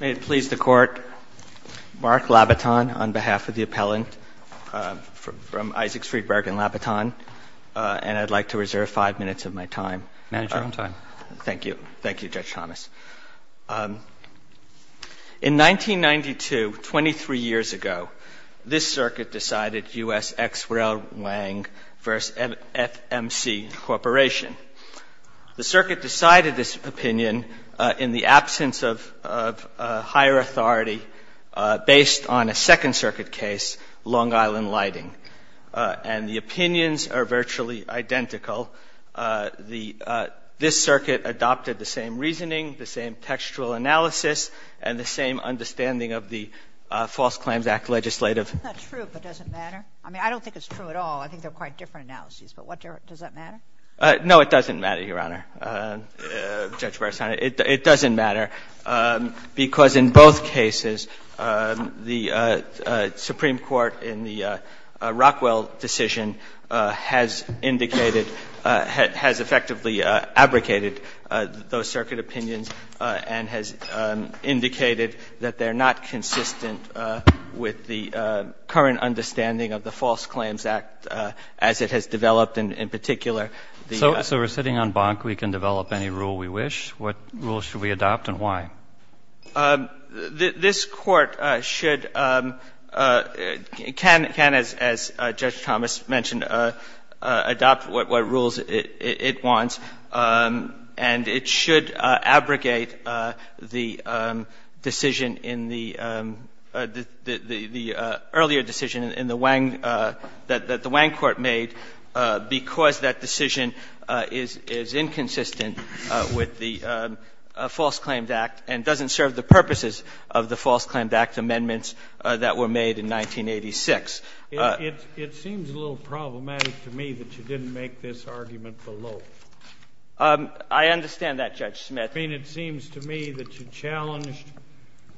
May it please the Court, Mark Labaton on behalf of the appellant from Isaac Friedberg and Labaton, and I'd like to reserve five minutes of my time. Manager on time. Thank you. Thank you, Judge Thomas. In 1992, 23 years ago, this Circuit decided U.S. ex rel. Wang v. FMC Corporation. The Circuit decided this opinion in the absence of higher authority based on a Second Circuit case, Long Island Lighting. And the opinions are virtually identical. This Circuit adopted the same reasoning, the same textual analysis, and the same understanding of the False Claims Act legislative. That's not true, but does it matter? I mean, I don't think it's true at all. I think they're quite different analyses, but does that matter? No, it doesn't matter, Your Honor, Judge Breyer. It doesn't matter, because in both cases, the Supreme Court in the Rockwell decision has indicated, has effectively abrogated those Circuit opinions and has indicated that they're not consistent with the current understanding of the False Claims Act as it has developed in particular. So we're sitting on bonk. We can develop any rule we wish. What rules should we adopt and why? This Court should, can, as Judge Thomas mentioned, adopt what rules it wants. And it should abrogate the decision in the earlier decision in the Wang, that the Wang court made, because that decision is inconsistent with the False Claims Act and doesn't serve the purposes of the False Claims Act amendments that were made in 1986. It seems a little problematic to me that you didn't make this argument below. I understand that, Judge Smith. I mean, it seems to me that you challenged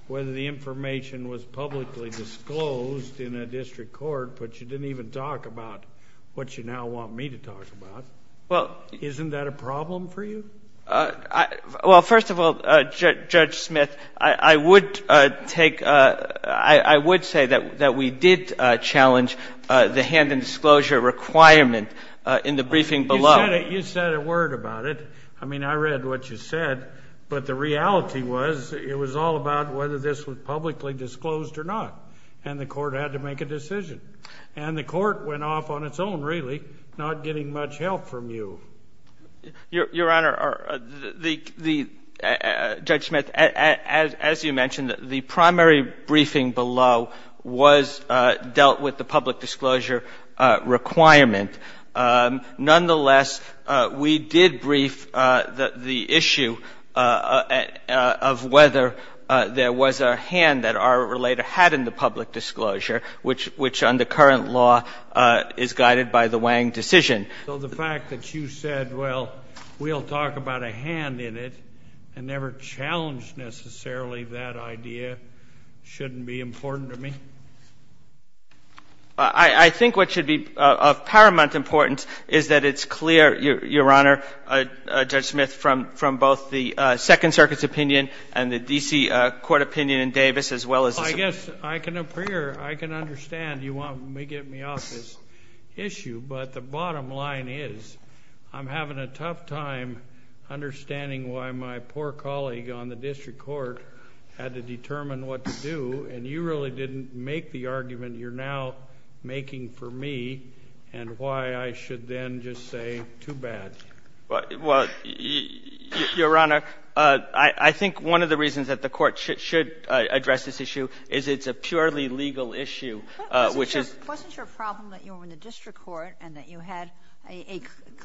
whether the information was publicly disclosed in a district court, but you didn't even talk about what you now want me to talk about. Isn't that a problem for you? Well, first of all, Judge Smith, I would take, I would say that we did challenge the hand-in-disclosure requirement in the briefing below. You said a word about it. I mean, I read what you said, but the reality was it was all about whether this was publicly disclosed or not, and the Court had to make a decision. And the Court went off on its own, really, not getting much help from you. Your Honor, the — Judge Smith, as you mentioned, the primary briefing below was dealt with the public disclosure requirement. Nonetheless, we did brief the issue of whether there was a hand that our relator had in the public disclosure, which under current law is guided by the Wang decision. So the fact that you said, well, we'll talk about a hand in it, and never challenged necessarily that idea, shouldn't be important to me? I think what should be of paramount importance is that it's clear, Your Honor, Judge Smith, from both the Second Circuit's opinion and the D.C. Court opinion in Davis, as well as the — Well, I guess I can appear — I can understand you want me — get me off this issue. But the bottom line is, I'm having a tough time understanding why my poor colleague on the District Court had to determine what to do, and you really didn't make the argument you're now making for me, and why I should then just say, too bad. Well, Your Honor, I think one of the reasons that the Court should address this issue is it's a purely legal issue, which is — Wasn't your problem that you were in the District Court and that you had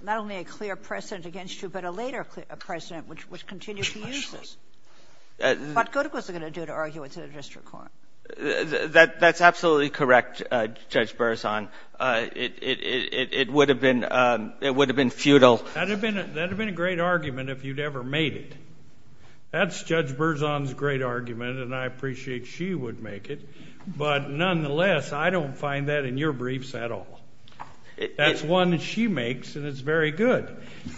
not only a clear precedent against you, but a later precedent which continues to use this? What good was it going to do to argue it to the District Court? That's absolutely correct, Judge Burson. It would have been — it would have been futile. That would have been a great argument if you'd ever made it. That's Judge Burson's great argument, and I appreciate she would make it. But nonetheless, I don't find that in your briefs at all. That's one that she makes, and it's very good,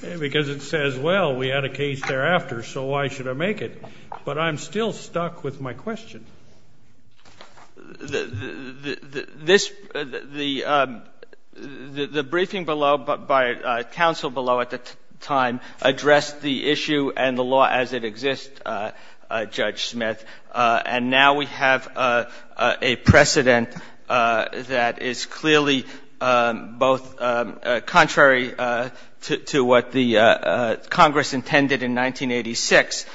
because it says, well, we had a case thereafter, so why should I make it? But I'm still stuck with my question. This — the briefing below by counsel below at the time addressed the issue and the law as it exists, Judge Smith, and now we have a precedent that is clearly both contrary to what the Congress intended in 1986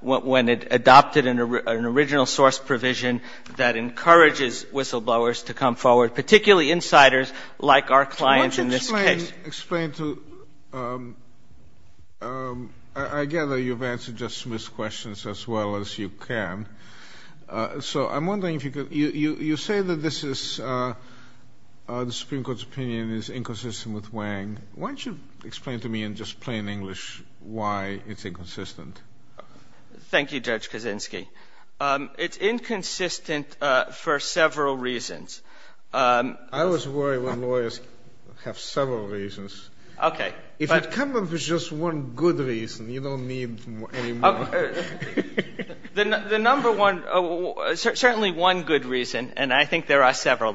when it adopted an original source provision that encourages whistleblowers to come forward, particularly insiders like our clients in this case. So why don't you explain to — I gather you've answered Judge Smith's questions as well as you can, so I'm wondering if you could — you say that this is — the Supreme Court is inconsistent with Wang. Why don't you explain to me in just plain English why it's inconsistent? Thank you, Judge Kaczynski. It's inconsistent for several reasons. I always worry when lawyers have several reasons. Okay. If it comes up as just one good reason, you don't need any more. The number one — certainly one good reason, and I think there are several,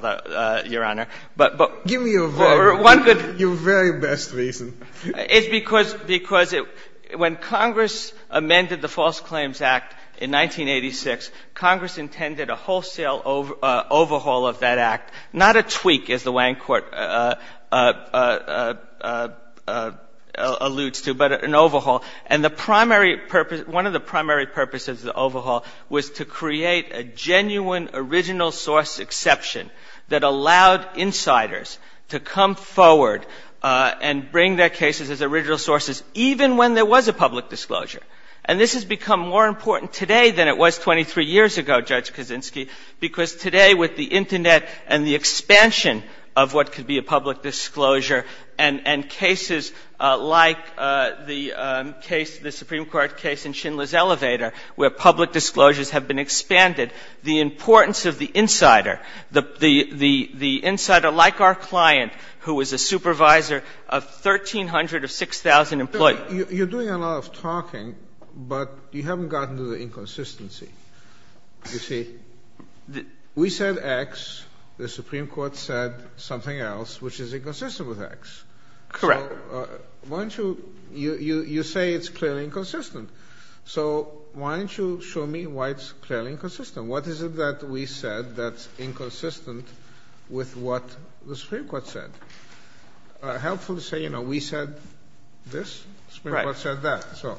Your Honor, but — One good — Your very best reason. It's because — because when Congress amended the False Claims Act in 1986, Congress intended a wholesale overhaul of that act, not a tweak, as the Wang Court alludes to, but an overhaul. And the primary purpose — one of the primary purposes of the overhaul was to create a genuine original source exception that allowed insiders to come forward and bring their cases as original sources, even when there was a public disclosure. And this has become more important today than it was 23 years ago, Judge Kaczynski, because today with the Internet and the expansion of what could be a public disclosure and cases like the case — the Supreme Court case in Schindler's Elevator, where public disclosure is a part of the — is a part of the — is a part of the — is a part of the importance of the insider, the insider like our client, who is a supervisor of 1,300 or 6,000 employees. You're doing a lot of talking, but you haven't gotten to the inconsistency. You see, we said X. The Supreme Court said something else, which is inconsistent with X. Correct. Well, why don't you — you say it's clearly inconsistent. So why don't you show me why it's clearly inconsistent? What is it that we said that's inconsistent with what the Supreme Court said? Helpful to say, you know, we said this, the Supreme Court said that. Right. So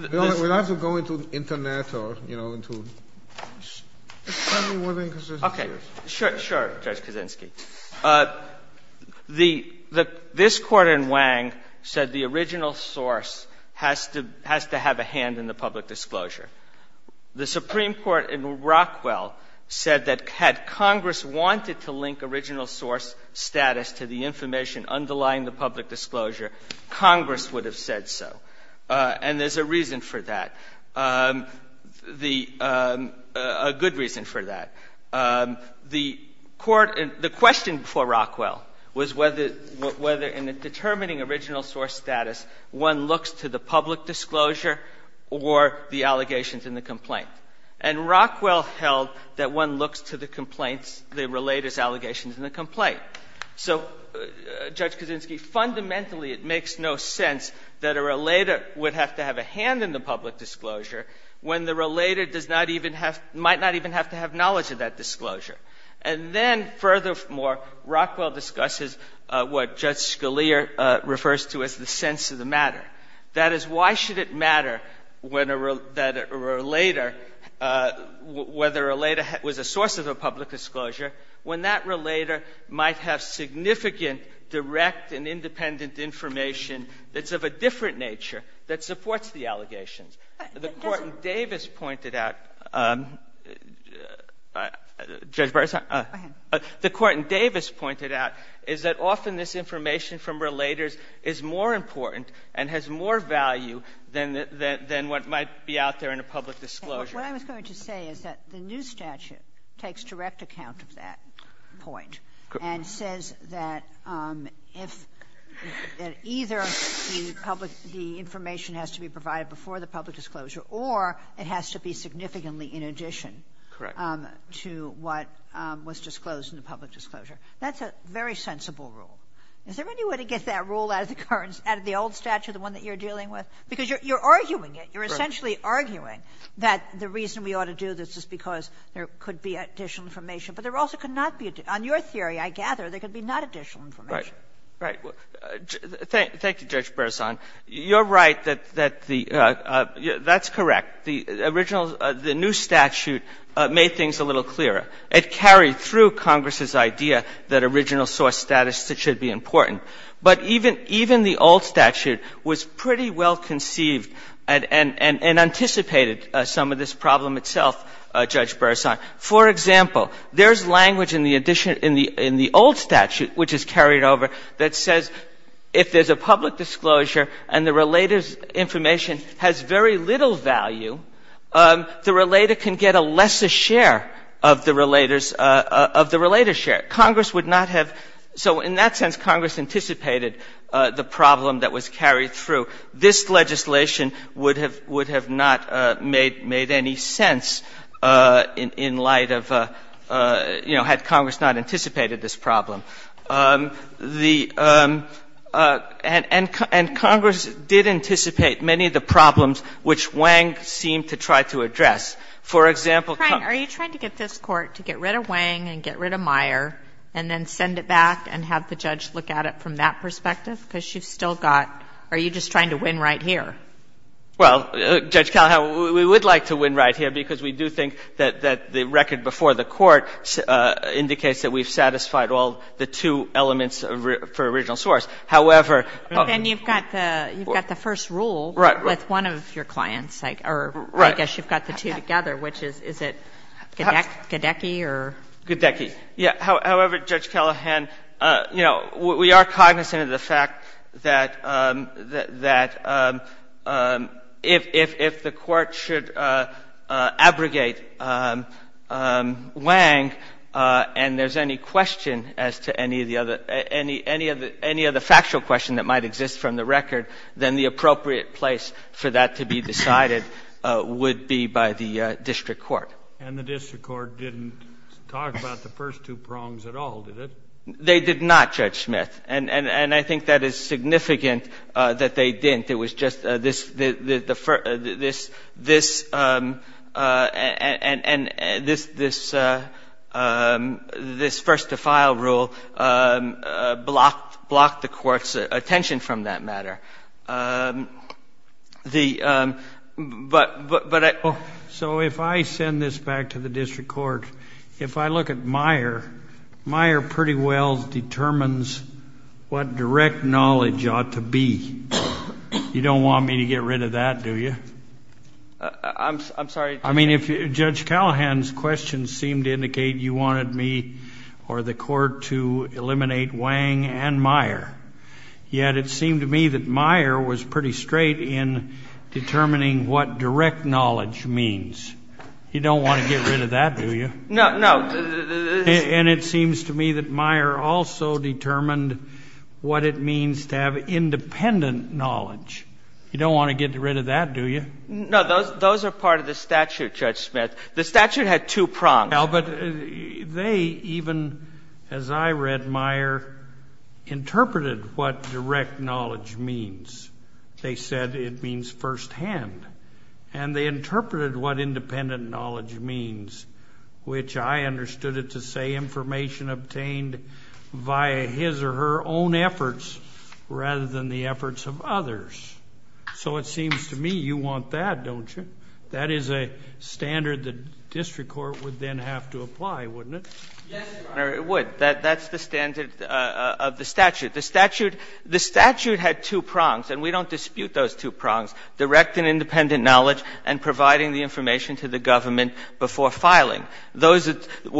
we don't have to go into Internet or, you know, into — tell me what the inconsistency is. Okay. Sure, sure, Judge Kaczynski. The — this Court in Wang said the original source has to — has to have a hand in the public disclosure. The Supreme Court in Rockwell said that had Congress wanted to link original source status to the information underlying the public disclosure, Congress would have said so. And there's a reason for that, the — a good reason for that. The Court — the question for Rockwell was whether — whether in determining original source status, one looks to the public disclosure or the allegations in the complaint. And Rockwell held that one looks to the complaints, the relator's allegations in the complaint. So, Judge Kaczynski, fundamentally it makes no sense that a relator would have to have a hand in the public disclosure when the relator does not even have — might not even have to have knowledge of that disclosure. And then, furthermore, Rockwell discusses what Judge Scalia refers to as the sense of the matter. That is, why should it matter when a — that a relator — whether a relator was a source of a public disclosure when that relator might have significant direct and independent information that's of a different nature that supports the allegations? The Court in Davis pointed out — Judge Barisan? Go ahead. The Court in Davis pointed out is that often this information from relators is more important and has more value than — than what might be out there in a public disclosure. What I was going to say is that the new statute takes direct account of that point and says that if — that either the public — the information has to be provided before the public disclosure or it has to be significantly in addition to what was disclosed in the public disclosure. That's a very sensible rule. Is there any way to get that rule out of the current — out of the old statute, the one that you're dealing with? Because you're arguing it. You're essentially arguing that the reason we ought to do this is because there could be additional information, but there also could not be — on your theory, I gather, there could be not additional information. Right. Thank you, Judge Barisan. You're right that the — that's correct. The original — the new statute made things a little clearer. It carried through Congress's idea that original source status should be important. But even — even the old statute was pretty well conceived and anticipated some of this problem itself, Judge Barisan. For example, there's language in the addition — in the old statute, which is carried over, that says if there's a public disclosure and the relator's information has very little value, the relator can get a lesser share of the relator's — of the relator's share. Congress would not have — so in that sense, Congress anticipated the problem that was carried through. This legislation would have — would have not made any sense in light of, you know, had Congress not anticipated this problem. The — and Congress did anticipate many of the problems which Wang seemed to try to address. For example, Congress — Are you trying to get this Court to get rid of Wang and get rid of Meyer and then send it back and have the judge look at it from that perspective? Because you've still got — are you just trying to win right here? Well, Judge Callahan, we would like to win right here because we do think that the record before the Court indicates that we've satisfied all the two elements for original source. However — But then you've got the — you've got the first rule — Right. — with one of your clients. Right. Or I guess you've got the two together, which is — is it Gedecky or — Gedecky. Yeah. However, Judge Callahan, you know, we are cognizant of the fact that — that if — if the Court should abrogate Wang and there's any question as to any of the other — any of the factual question that might exist from the record, then the appropriate place for that to be decided would be by the district court. And the district court didn't talk about the first two prongs at all, did it? They did not, Judge Smith. And I think that is significant that they didn't. I think it was just this — this — and this first-to-file rule blocked the Court's attention from that matter. The — but — So if I send this back to the district court, if I look at Meyer, Meyer pretty well determines what direct knowledge ought to be. You don't want me to get rid of that, do you? I'm — I'm sorry, Judge — I mean, if — Judge Callahan's questions seemed to indicate you wanted me or the Court to eliminate Wang and Meyer. Yet it seemed to me that Meyer was pretty straight in determining what direct knowledge means. You don't want to get rid of that, do you? No, no. And it seems to me that Meyer also determined what it means to have independent knowledge. You don't want to get rid of that, do you? No, those are part of the statute, Judge Smith. The statute had two prongs. No, but they even, as I read Meyer, interpreted what direct knowledge means. They said it means firsthand. And they interpreted what independent knowledge means, which I understood it to say information obtained via his or her own efforts rather than the efforts of others. So it seems to me you want that, don't you? That is a standard the district court would then have to apply, wouldn't it? Yes, Your Honor, it would. That's the standard of the statute. The statute — the statute had two prongs, and we don't dispute those two prongs. Direct and independent knowledge and providing the information to the government before filing. Those —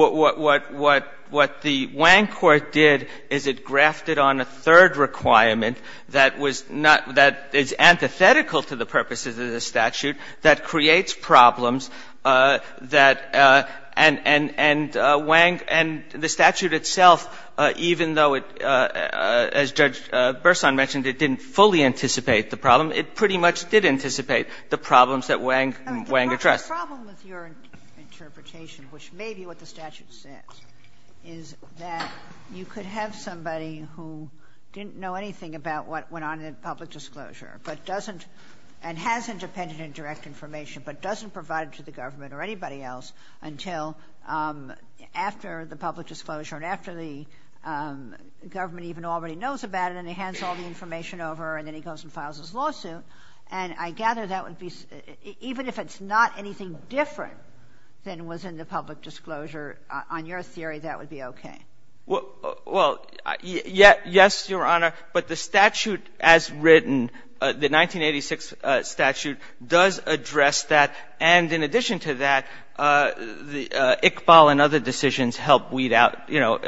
what the Wang court did is it grafted on a third requirement that was not — that is antithetical to the purposes of the statute, that creates problems that — and Wang — and the statute itself, even though it — as Judge Burson mentioned, it didn't fully anticipate the problem. It pretty much did anticipate the problems that Wang addressed. The problem with your interpretation, which may be what the statute says, is that you could have somebody who didn't know anything about what went on in the public disclosure, but doesn't — and has independent and direct information, but doesn't provide it to the government or anybody else until after the public disclosure and after the government even already knows about it and he hands all the information over and then he goes and files his lawsuit. And I gather that would be — even if it's not anything different than was in the public disclosure, on your theory, that would be okay. Well, yes, Your Honor, but the statute as written, the 1986 statute, does address that, and in addition to that, the — Iqbal and other decisions help weed out, you know,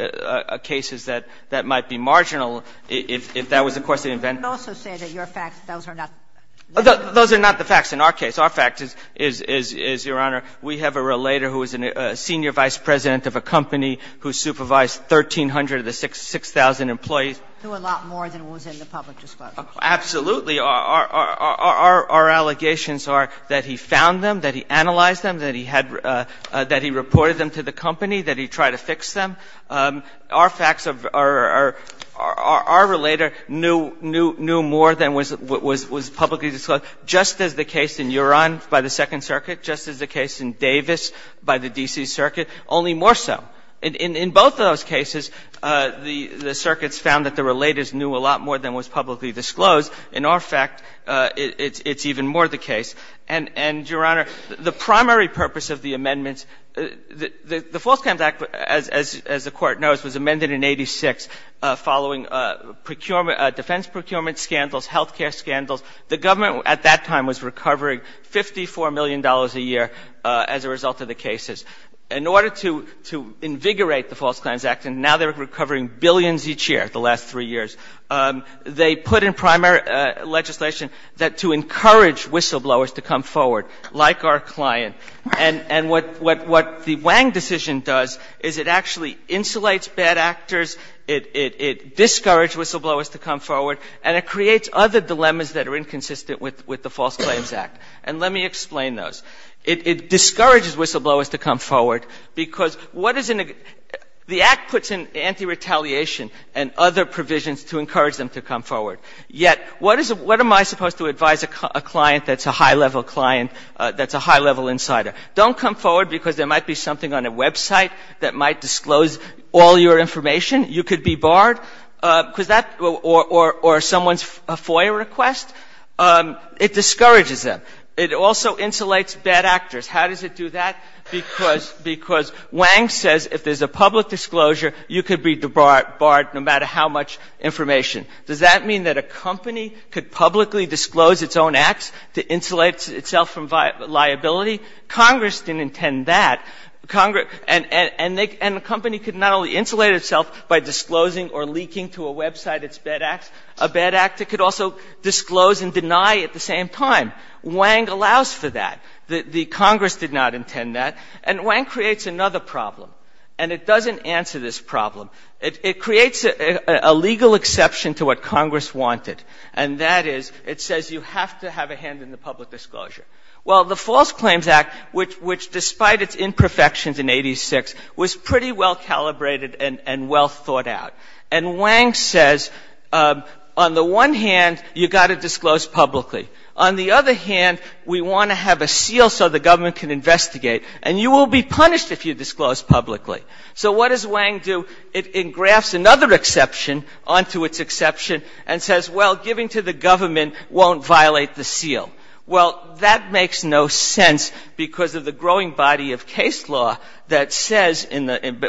cases that might be marginal if that was, of course, the event. I would also say that your facts, those are not the facts. Those are not the facts in our case. Our fact is, Your Honor, we have a relator who is a senior vice president of a company who supervised 1,300 of the 6,000 employees. Who a lot more than was in the public disclosure. Absolutely. Our allegations are that he found them, that he analyzed them, that he had — that he reported them to the company, that he tried to fix them. Our facts are — our relator knew more than was publicly disclosed, just as the case in Yuran by the Second Circuit, just as the case in Davis by the D.C. Circuit, only more so. In both those cases, the circuits found that the relators knew a lot more than was publicly disclosed. In our fact, it's even more the case. And, Your Honor, the primary purpose of the amendments — the False Clams Act, as the Court knows, was amended in 86 following procurement — defense procurement scandals, health care scandals. The government at that time was recovering $54 million a year as a result of the cases. In order to invigorate the False Clams Act, and now they're recovering billions each year, the last three years, they put in primary legislation that to encourage whistleblowers to come forward, like our client. And what the Wang decision does is it actually insulates bad actors, it discourages whistleblowers to come forward, and it creates other dilemmas that are inconsistent with the False Claims Act. And let me explain those. It discourages whistleblowers to come forward because what is in a — the Act puts in anti-retaliation and other provisions to encourage them to come forward. Yet, what is — what am I supposed to advise a client that's a high-level client, that's a high-level insider? Don't come forward because there might be something on a website that might disclose all your information. You could be barred because that — or someone's FOIA request. It discourages them. It also insulates bad actors. How does it do that? Because — because Wang says if there's a public disclosure, you could be barred no matter how much information. Does that mean that a company could publicly disclose its own acts to insulate itself from liability? Congress didn't intend that. And a company could not only insulate itself by disclosing or leaking to a website its bad acts, a bad actor could also disclose and deny at the same time. Wang allows for that. The Congress did not intend that. And Wang creates another problem, and it doesn't answer this problem. It creates a legal exception to what Congress wanted, and that is it says you have to have a hand in the public disclosure. Well, the False Claims Act, which despite its imperfections in 86, was pretty well calibrated and well thought out. And Wang says on the one hand, you've got to disclose publicly. On the other hand, we want to have a seal so the government can investigate, and you will be punished if you disclose publicly. So what does Wang do? It engrafts another exception onto its exception and says, well, giving to the government won't violate the seal. Well, that makes no sense because of the growing body of case law that says,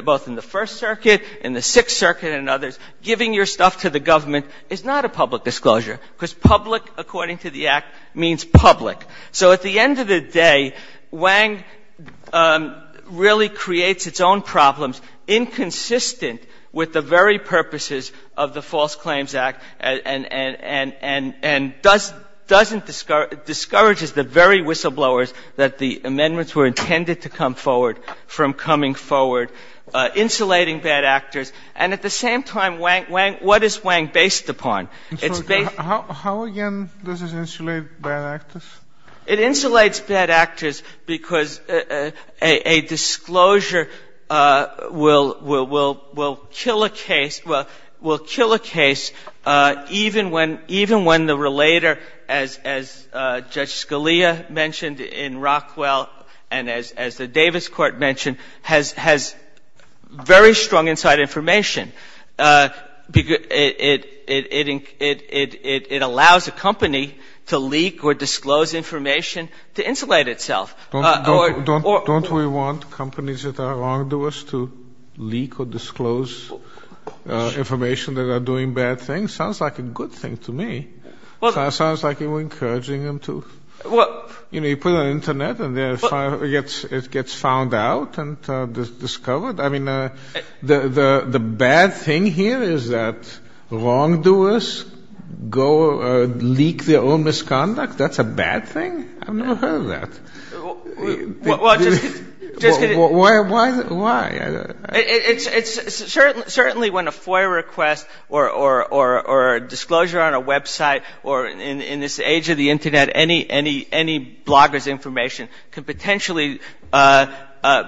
both in the First Circuit, in the Sixth Circuit, and others, giving your stuff to the government is not a public disclosure, because public, according to the Act, means public. So at the end of the day, Wang really creates its own problems inconsistent with the very purposes of the False Claims Act and doesn't ‑‑ discourages the very whistleblowers that the amendments were intended to come forward from coming forward, insulating bad actors. And at the same time, Wang ‑‑ what is Wang based upon? It's based ‑‑ How, again, does this insulate bad actors? It insulates bad actors because a disclosure will kill a case, will kill a case even when the relator, as Judge Scalia mentioned in Rockwell and as the Davis Court mentioned, has very strong inside information. It allows a company to leak or disclose information to insulate itself. Don't we want companies that are wrongdoers to leak or disclose information that are doing bad things? Sounds like a good thing to me. Sounds like you're encouraging them to. You put it on the Internet and it gets found out and discovered. I mean, the bad thing here is that wrongdoers go leak their own misconduct? That's a bad thing? I've never heard of that. Well, just kidding. Why? It's certainly when a FOIA request or a disclosure on a website or in this age of the I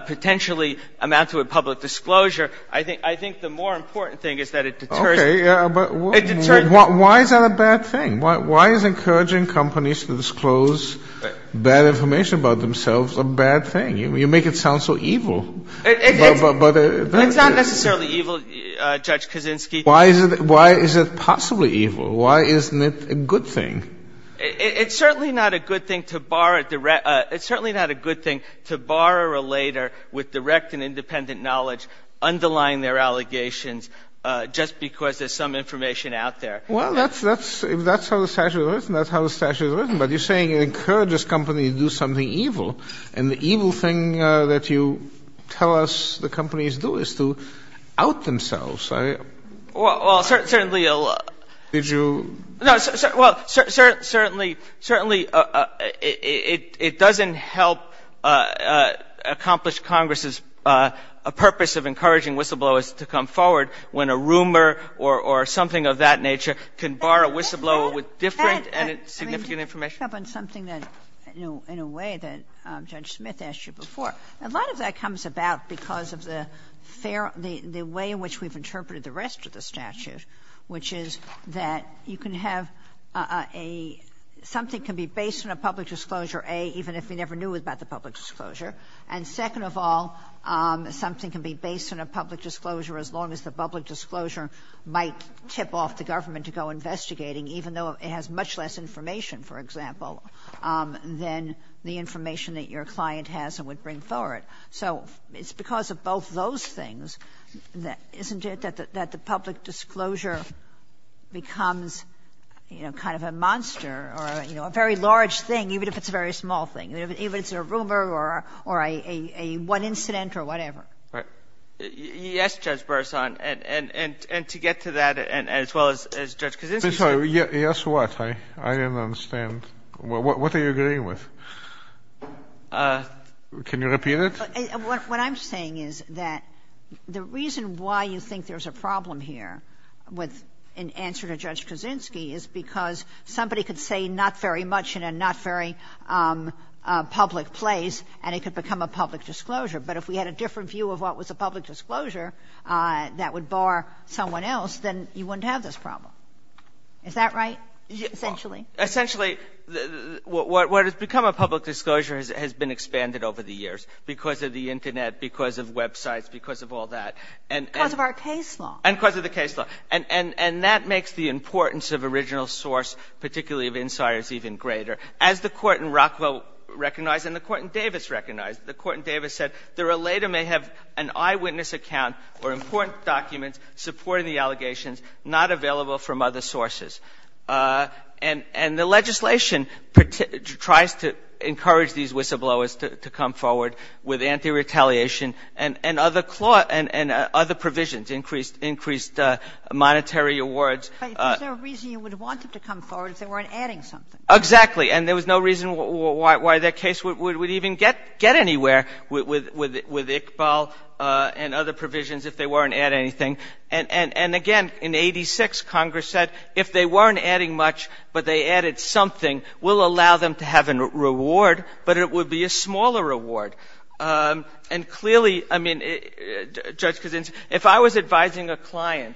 think the more important thing is that it deters ‑‑ Okay, but why is that a bad thing? Why is encouraging companies to disclose bad information about themselves a bad thing? You make it sound so evil. It's not necessarily evil, Judge Kaczynski. Why is it possibly evil? Why isn't it a good thing? It's certainly not a good thing to borrow or later with direct and independent knowledge underlying their allegations just because there's some information out there. Well, if that's how the statute is written, that's how the statute is written. But you're saying it encourages companies to do something evil. And the evil thing that you tell us the companies do is to out themselves. Well, certainly a lot. Did you ‑‑ Well, certainly it doesn't help accomplish Congress's purpose of encouraging whistleblowers to come forward when a rumor or something of that nature can bar a whistleblower with different and significant information. Can I pick up on something in a way that Judge Smith asked you before? A lot of that comes about because of the way in which we've interpreted the rest of the statute, which is that you can have a ‑‑ something can be based on a public disclosure, A, even if you never knew about the public disclosure. And second of all, something can be based on a public disclosure as long as the public disclosure might tip off the government to go investigating, even though it has much less information, for example, than the information that your client has and would bring forward. So it's because of both those things that, isn't it, that the public disclosure becomes, you know, kind of a monster or, you know, a very large thing, even if it's a very small thing. Even if it's a rumor or a one incident or whatever. Right. Yes, Judge Bresson. And to get to that as well as Judge Kaczynski said. I'm sorry. Yes, what? I didn't understand. What are you agreeing with? Can you repeat it? What I'm saying is that the reason why you think there's a problem here with an answer to Judge Kaczynski is because somebody could say not very much in a not very public place and it could become a public disclosure. But if we had a different view of what was a public disclosure that would bar someone else, then you wouldn't have this problem. Is that right, essentially? Essentially, what has become a public disclosure has been expanded over the years because of the Internet, because of websites, because of all that. Because of our case law. And because of the case law. And that makes the importance of original source, particularly of insiders, even greater. As the Court in Rockville recognized and the Court in Davis recognized, the Court in Davis said there later may have an eyewitness account or important documents supporting the allegations not available from other sources. And the legislation tries to encourage these whistleblowers to come forward with anti-retaliation and other provisions, increased monetary awards. But is there a reason you would want them to come forward if they weren't adding something? Exactly. And there was no reason why that case would even get anywhere with Iqbal and other provisions if they weren't adding anything. And again, in 86, Congress said if they weren't adding much but they added something, we'll allow them to have a reward, but it would be a smaller reward. And clearly, I mean, Judge Kucinich, if I was advising a client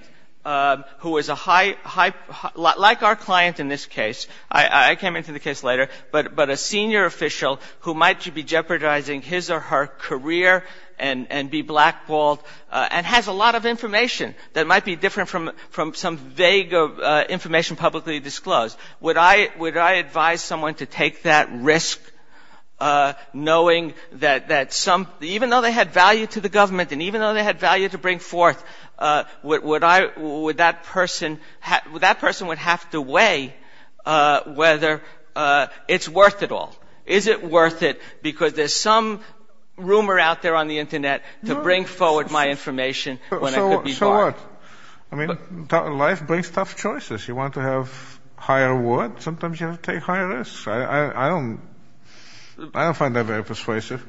who was a high ‑‑ like our client in this case, I came into the case later, but a senior official who might be jeopardizing his or her career and be blackballed and has a reputation that might be different from some vague information publicly disclosed, would I advise someone to take that risk knowing that some ‑‑ even though they had value to the government and even though they had value to bring forth, would I ‑‑ would that person ‑‑ would that person would have to weigh whether it's worth it all. Is it worth it because there's some rumor out there on the Internet to bring forward my information when I could be black? So what? I mean, life brings tough choices. You want to have higher reward, sometimes you have to take higher risks. I don't find that very persuasive.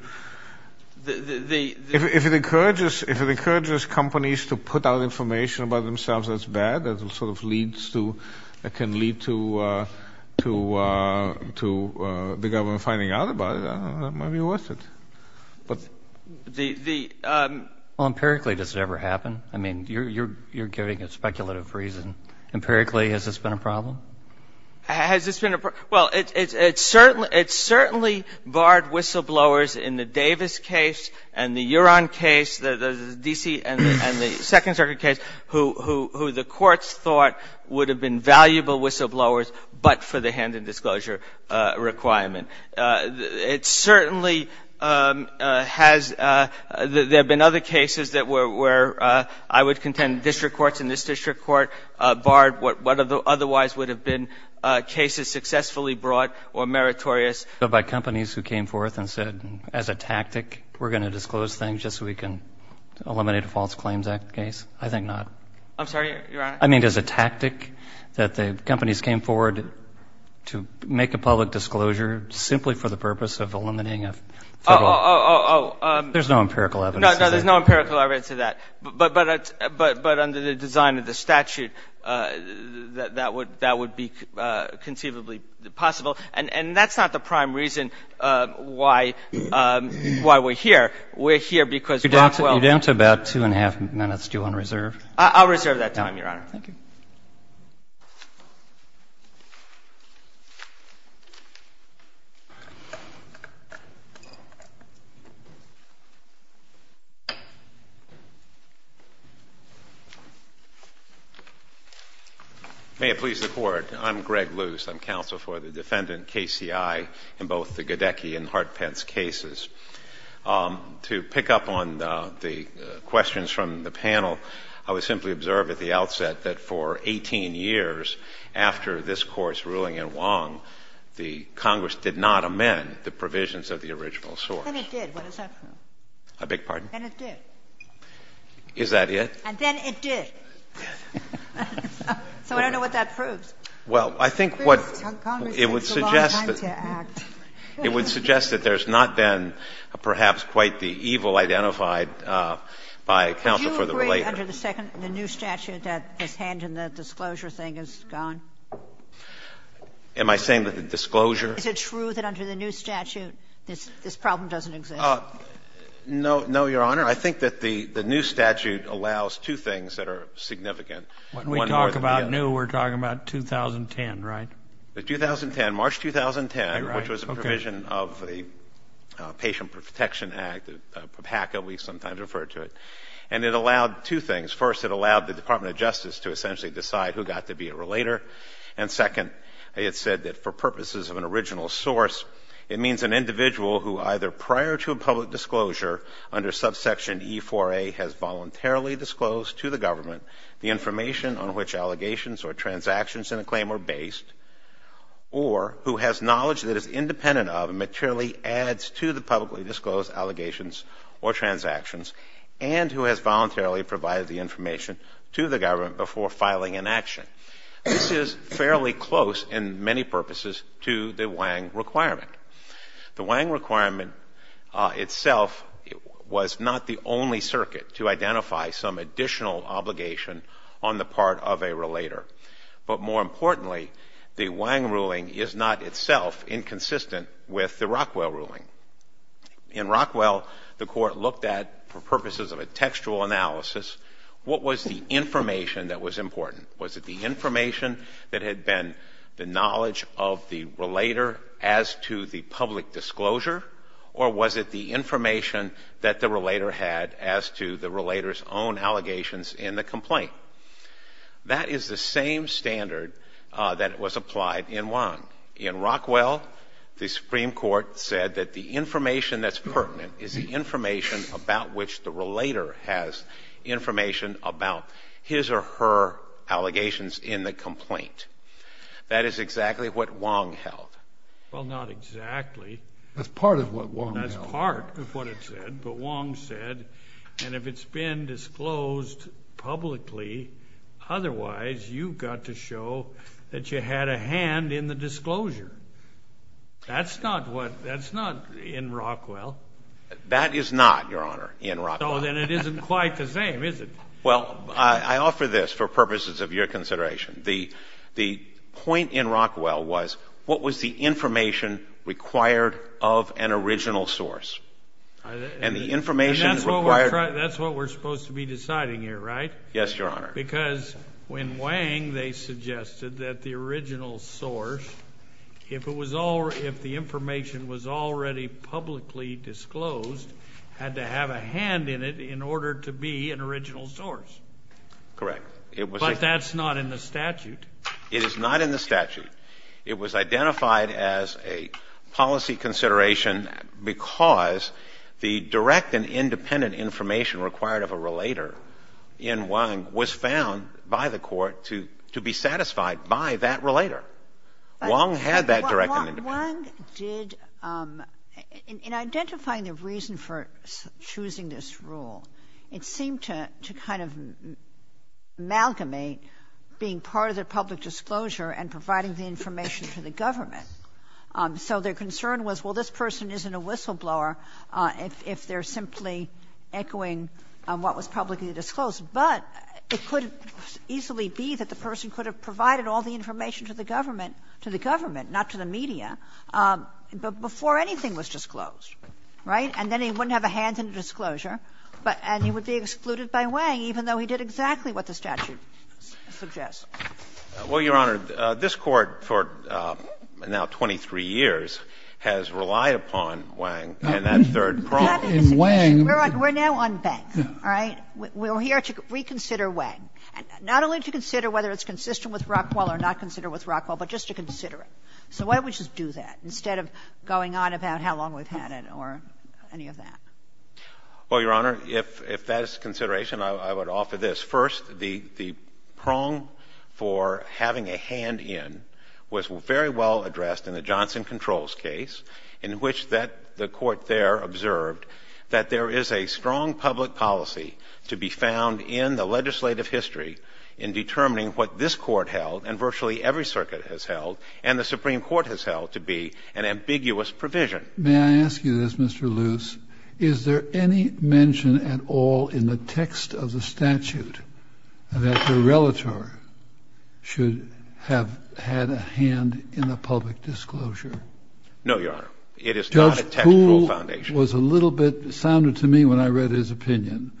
If it encourages companies to put out information about themselves that's bad, that sort of leads to ‑‑ that can lead to the government finding out about it, and that might be worth it. But the ‑‑ Well, empirically, does it ever happen? I mean, you're giving a speculative reason. Empirically, has this been a problem? Has this been a problem? Well, it certainly barred whistleblowers in the Davis case and the Uron case, the D.C. and the Second Circuit case, who the courts thought would have been valuable whistleblowers but for the hand in disclosure requirement. It certainly has ‑‑ there have been other cases that were, I would contend, district courts in this district court barred what otherwise would have been cases successfully brought or meritorious. But by companies who came forth and said, as a tactic, we're going to disclose things just so we can eliminate a False Claims Act case? I think not. I'm sorry, Your Honor? I mean, as a tactic that the companies came forward to make a public disclosure simply for the purpose of eliminating a federal ‑‑ Oh, oh, oh. There's no empirical evidence. No, there's no empirical evidence of that. But under the design of the statute, that would be conceivably possible. And that's not the prime reason why we're here. We're here because ‑‑ You're down to about two and a half minutes. Do you want to reserve? I'll reserve that time, Your Honor. Thank you. May it please the Court, I'm Greg Luce. I'm counsel for the defendant KCI in both the Gadecki and Hartpence cases. To pick up on the questions from the panel, I would simply observe at the outset that for 18 years after this Court's ruling in Wong, the Congress did not amend the provisions of the original source. Then it did. What does that prove? A big pardon? Then it did. Is that it? And then it did. So I don't know what that proves. Well, I think what ‑‑ Congress takes a long time to act. It would suggest that there's not been perhaps quite the evil identified by counsel for the ‑‑ Under the new statute that this hand in the disclosure thing is gone? Am I saying that the disclosure ‑‑ Is it true that under the new statute this problem doesn't exist? No, Your Honor. I think that the new statute allows two things that are significant. When we talk about new, we're talking about 2010, right? The 2010, March 2010, which was a provision of the Patient Protection Act, PACA, we sometimes refer to it. And it allowed two things. First, it allowed the Department of Justice to essentially decide who got to be a relator. And second, it said that for purposes of an original source, it means an individual who either prior to a public disclosure under subsection E4A has voluntarily disclosed to the government the information on which allegations or transactions in a claim are based, or who has knowledge that is independent of and materially adds to the publicly disclosed allegations or transactions, and who has voluntarily provided the information to the government before filing an action. This is fairly close in many purposes to the Wang requirement. The Wang requirement itself was not the only circuit to identify some additional obligation on the part of a relator. But more importantly, the Wang ruling is not itself inconsistent with the Rockwell ruling. In Rockwell, the court looked at, for purposes of a textual analysis, what was the information that was important? Was it the information that had been the knowledge of the relator as to the public disclosure, or was it the information that the relator had as to the relator's own allegations in the complaint? That is the same standard that was applied in Wang. In Rockwell, the Supreme Court said that the information that's pertinent is the information about which the relator has information about his or her allegations in the complaint. That is exactly what Wang held. Well, not exactly. That's part of what Wang held. That's part of what it said. But Wang said, and if it's been disclosed publicly, otherwise you've got to show that you had a hand in the disclosure. That's not what, that's not in Rockwell. That is not, Your Honor, in Rockwell. So then it isn't quite the same, is it? Well, I offer this for purposes of your consideration. The point in Rockwell was, what was the information required of an original source? And the information required. That's what we're supposed to be deciding here, right? Yes, Your Honor. Because when Wang, they suggested that the original source, if the information was already publicly disclosed, had to have a hand in it in order to be an original source. Correct. But that's not in the statute. It is not in the statute. It was identified as a policy consideration because the direct and independent information required of a relator in Wang was found by the court to be satisfied by that relator. Wang had that direct and independent. Wang did, in identifying the reason for choosing this rule, it seemed to kind of amalgamate being part of the public disclosure and providing the information to the government. So their concern was, well, this person isn't a whistleblower if they're simply echoing what was publicly disclosed, but it could easily be that the person could have provided all the information to the government, to the government, not to the media, but before anything was disclosed, right? And then he wouldn't have a hand in the disclosure, but he would be excluded by Wang, even though he did exactly what the statute suggests. Well, Your Honor, this Court for now 23 years has relied upon Wang and that third prong. We're not in Wang. We're now on Banks, all right? We're here to reconsider Wang, not only to consider whether it's consistent with Rockwell or not considered with Rockwell, but just to consider it. So why don't we just do that instead of going on about how long we've had it or any of that? Well, Your Honor, if that is the consideration, I would offer this. First, the prong for having a hand in was very well addressed in the Johnson Controls case, in which the Court there observed that there is a strong public policy to be found in the legislative history in determining what this Court held, and virtually every circuit has held, and the Supreme Court has held, to be an ambiguous provision. May I ask you this, Mr. Luce? Is there any mention at all in the text of the statute that the relator should have had a hand in a public disclosure? No, Your Honor. It is not a textual foundation. Judge Poole was a little bit, sounded to me when I read his opinion,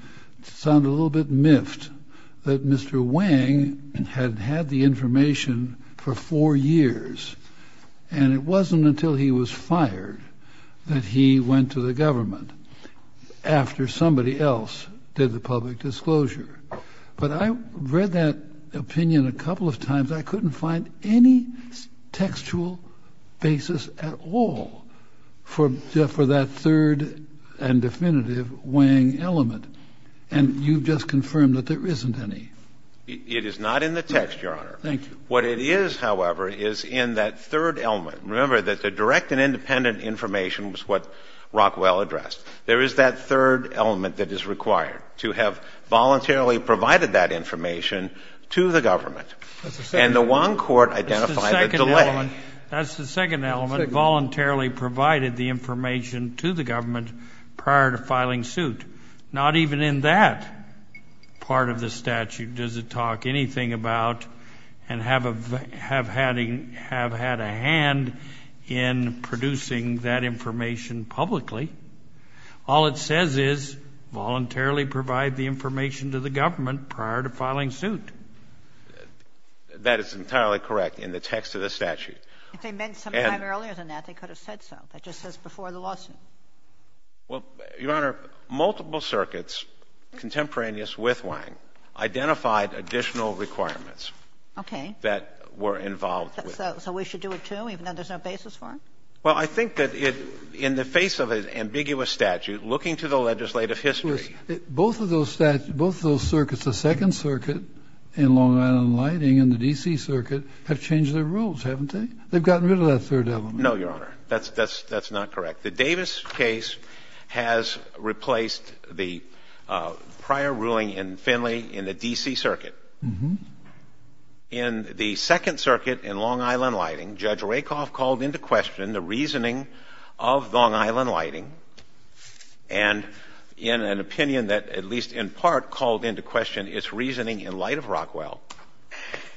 sounded a little bit miffed that Mr. Wang had had the information for four years, and it after somebody else did the public disclosure. But I read that opinion a couple of times. I couldn't find any textual basis at all for that third and definitive Wang element, and you've just confirmed that there isn't any. It is not in the text, Your Honor. Thank you. What it is, however, is in that third element. Remember that the direct and independent information was what Rockwell addressed. There is that third element that is required, to have voluntarily provided that information to the government. And the Wang court identified the delay. That's the second element, voluntarily provided the information to the government prior to filing suit. Not even in that part of the statute does it talk anything about and have had a hand in producing that information publicly. All it says is voluntarily provide the information to the government prior to filing suit. That is entirely correct in the text of the statute. If they meant some time earlier than that, they could have said so. That just says before the lawsuit. Well, Your Honor, multiple circuits contemporaneous with Wang identified additional requirements that were involved with it. So we should do it, too, even though there's no basis for it? Well, I think that in the face of an ambiguous statute, looking to the legislative history. Both of those circuits, the Second Circuit in Long Island Lighting and the D.C. Circuit have changed their rules, haven't they? They've gotten rid of that third element. No, Your Honor. That's not correct. The Davis case has replaced the prior ruling in Finley in the D.C. Circuit. In the Second Circuit in Long Island Lighting, Judge Rakoff called into question the reasoning of Long Island Lighting, and in an opinion that at least in part called into question its reasoning in light of Rockwell,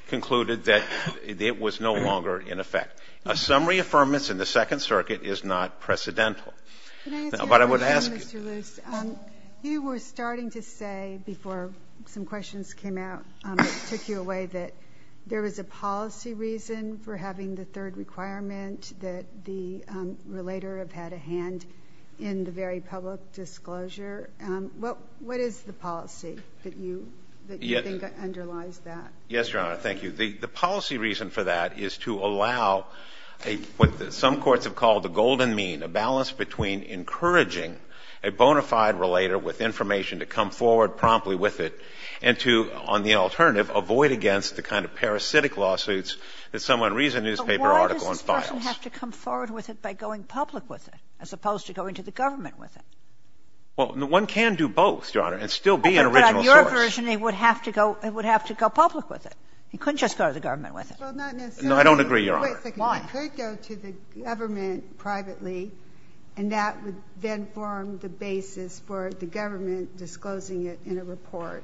concluded that it was no longer in effect. A summary of affirmance in the Second Circuit is not precedental. But I would ask you. Your Honor, you were starting to say before some questions came out, took you away that there was a policy reason for having the third requirement that the relator have had a hand in the very public disclosure. What is the policy that you think underlies that? Yes, Your Honor. Thank you. The policy reason for that is to allow what some courts have called the golden mean, a balance between encouraging a bona fide relator with information to come forward promptly with it and to, on the alternative, avoid against the kind of parasitic lawsuits that someone reads a newspaper article and files. But why does this person have to come forward with it by going public with it as opposed to going to the government with it? Well, one can do both, Your Honor, and still be an original source. But on your version, he would have to go public with it. He couldn't just go to the government with it. Well, not necessarily. No, I don't agree, Your Honor. Wait a second. Why? He could go to the government privately, and that would then form the basis for the government disclosing it in a report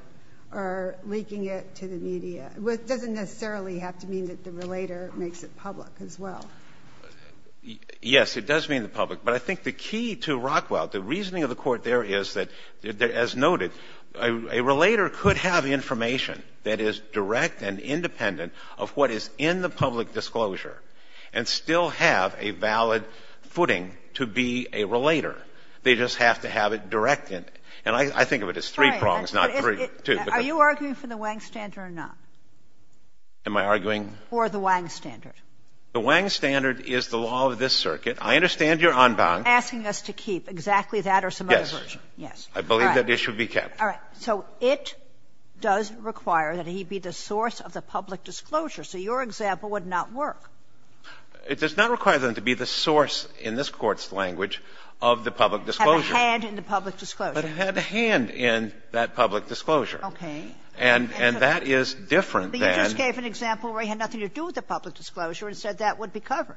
or leaking it to the media. It doesn't necessarily have to mean that the relator makes it public as well. Yes, it does mean the public. But I think the key to Rockwell, the reasoning of the Court there is that, as noted, a relator could have information that is direct and independent of what is in the public disclosure and still have a valid footing to be a relator. They just have to have it direct. And I think of it as three prongs, not three, two. Are you arguing for the Wang standard or not? Am I arguing? For the Wang standard. The Wang standard is the law of this circuit. I understand you're unbound. You're asking us to keep exactly that or some other version. Yes. I believe that it should be kept. All right. So it does require that he be the source of the public disclosure. So your example would not work. It does not require them to be the source, in this Court's language, of the public disclosure. Have a hand in the public disclosure. But have a hand in that public disclosure. And that is different than the public disclosure. But you just gave an example where he had nothing to do with the public disclosure and said that would be covered.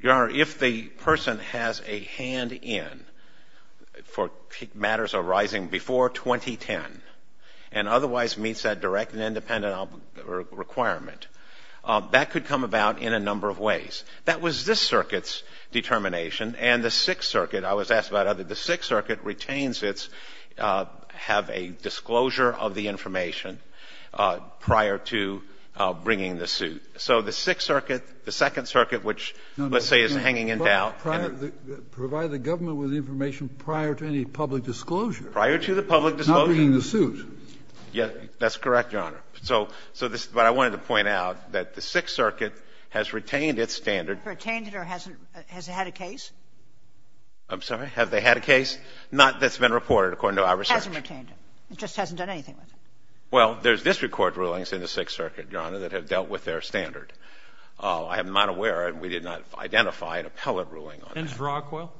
Your Honor, if the person has a hand in for matters arising before 2010 and otherwise meets that direct and independent requirement, that could come about in a number of ways. That was this circuit's determination. And the Sixth Circuit, I was asked about whether the Sixth Circuit retains its, have a disclosure of the information prior to bringing the suit. So the Sixth Circuit, the Second Circuit, which, let's say, is hanging in doubt and the other. But provide the government with information prior to any public disclosure. Prior to the public disclosure. Not bringing the suit. Yes. That's correct, Your Honor. So this is what I wanted to point out, that the Sixth Circuit has retained its standard. Retained it or hasn't? Has it had a case? I'm sorry? Have they had a case? Not that's been reported, according to our research. Hasn't retained it. It just hasn't done anything with it. Well, there's district court rulings in the Sixth Circuit, Your Honor, that have dealt with their standard. I am not aware, and we did not identify an appellate ruling on that. Since Rockwell?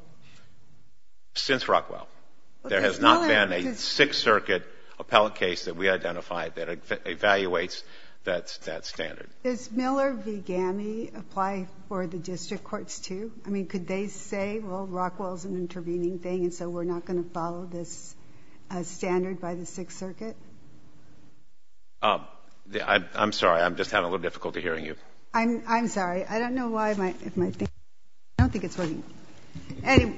Since Rockwell. There has not been a Sixth Circuit appellate case that we identified that evaluates that standard. Does Miller v. Gammie apply for the district courts, too? I mean, could they say, well, Rockwell is an intervening thing, and so we're not going to follow this standard by the Sixth Circuit? I'm sorry. I'm just having a little difficulty hearing you. I'm sorry. I don't know why my thing is working. I don't think it's working. Anyway.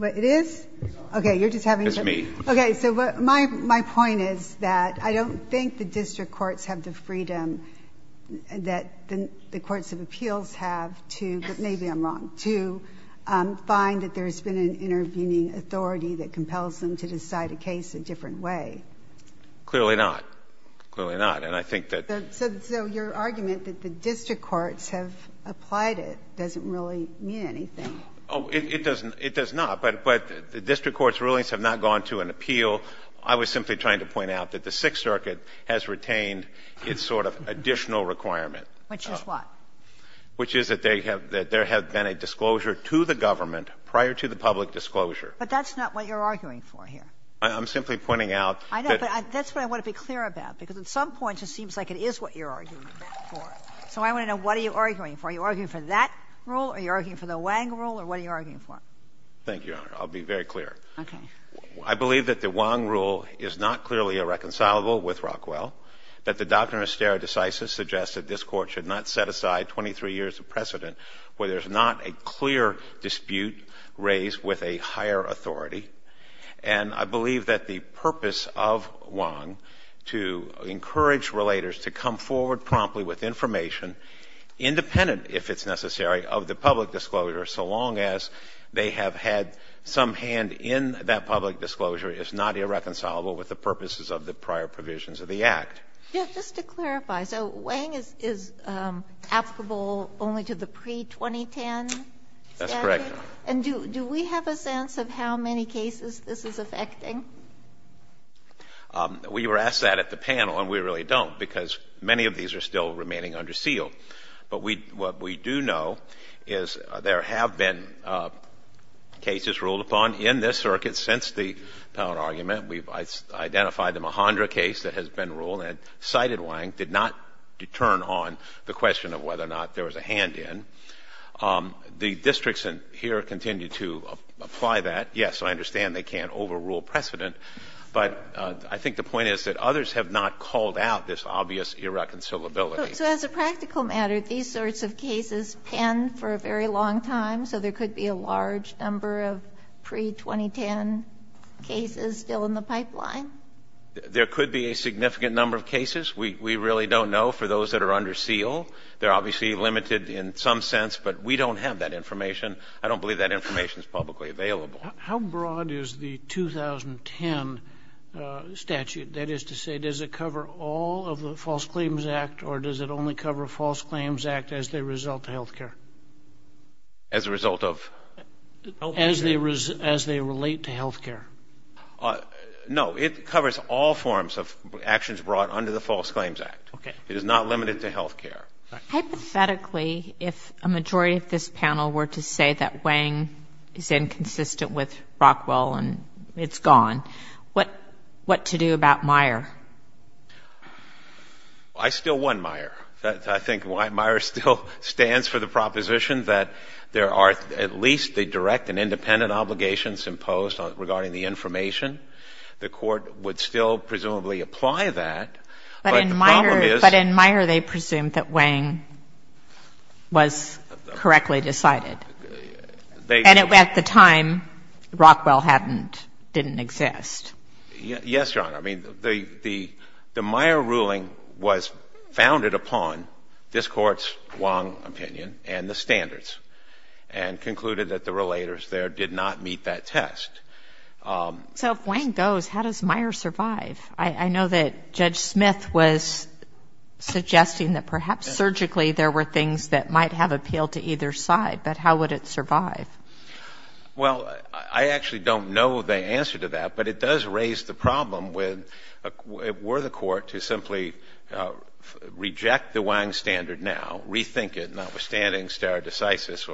It is? It's me. Okay. So my point is that I don't think the district courts have the freedom that the courts of appeals have to, but maybe I'm wrong, to find that there's been an intervening authority that compels them to decide a case a different way. Clearly not. Clearly not. And I think that the So your argument that the district courts have applied it doesn't really mean anything. Oh, it doesn't. It does not. But the district courts' rulings have not gone to an appeal. I was simply trying to point out that the Sixth Circuit has retained its sort of additional requirement. Which is what? Which is that they have been a disclosure to the government prior to the public disclosure. But that's not what you're arguing for here. I'm simply pointing out that I know, but that's what I want to be clear about, because at some point it seems like it is what you're arguing for. So I want to know, what are you arguing for? Are you arguing for that rule, are you arguing for the Wang rule, or what are you arguing for? Thank you, Your Honor. I'll be very clear. Okay. I believe that the Wang rule is not clearly irreconcilable with Rockwell. That the doctrine of stare decisis suggests that this court should not set aside 23 years of precedent where there's not a clear dispute raised with a higher authority. And I believe that the purpose of Wang to encourage relators to come forward promptly with information, independent, if it's necessary, of the public disclosure so long as they have had some hand in that public disclosure is not irreconcilable with the purposes of the prior provisions of the Act. Yes. Just to clarify. So Wang is applicable only to the pre-2010 statute? That's correct. And do we have a sense of how many cases this is affecting? We were asked that at the panel, and we really don't, because many of these are still remaining under seal. But what we do know is there have been cases ruled upon in this circuit since the Pound argument. We've identified the Mahondra case that has been ruled, and cited Wang did not determine on the question of whether or not there was a hand in. The districts here continue to apply that. Yes, I understand they can't overrule precedent, but I think the point is that others have not called out this obvious irreconcilability. So as a practical matter, these sorts of cases pen for a very long time, so there could be a large number of pre-2010 cases still in the pipeline? There could be a significant number of cases. We really don't know for those that are under seal. They're obviously limited in some sense, but we don't have that information. I don't believe that information is publicly available. How broad is the 2010 statute? That is to say, does it cover all of the False Claims Act, or does it only cover False Claims Act as they result to health care? As a result of? As they relate to health care. No, it covers all forms of actions brought under the False Claims Act. It is not limited to health care. Hypothetically, if a majority of this panel were to say that Wang is inconsistent with I still want Meyer. I think Meyer still stands for the proposition that there are at least the direct and independent obligations imposed regarding the information. The Court would still presumably apply that, but the problem is. But in Meyer, they presumed that Wang was correctly decided. And at the time, Rockwell hadn't, didn't exist. Yes, Your Honor. I mean, the Meyer ruling was founded upon this Court's Wong opinion and the standards, and concluded that the relators there did not meet that test. So if Wang goes, how does Meyer survive? I know that Judge Smith was suggesting that perhaps surgically there were things that might have appealed to either side, but how would it survive? Well, I actually don't know the answer to that, but it does raise the problem with, were the Court to simply reject the Wang standard now, rethink it, notwithstanding stare decisis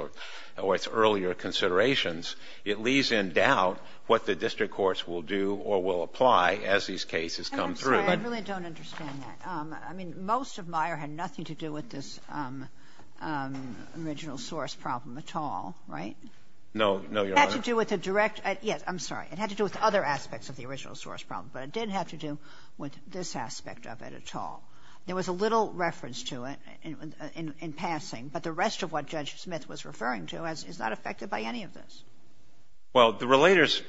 or its earlier considerations, it leaves in doubt what the district courts will do or will apply as these cases come through. And I'm sorry, I really don't understand that. I mean, most of Meyer had nothing to do with this original source problem at all, right? No, no, Your Honor. It had to do with the direct — yes, I'm sorry. It had to do with other aspects of the original source problem, but it didn't have to do with this aspect of it at all. There was a little reference to it in passing, but the rest of what Judge Smith was referring to is not affected by any of this. Well, the relators'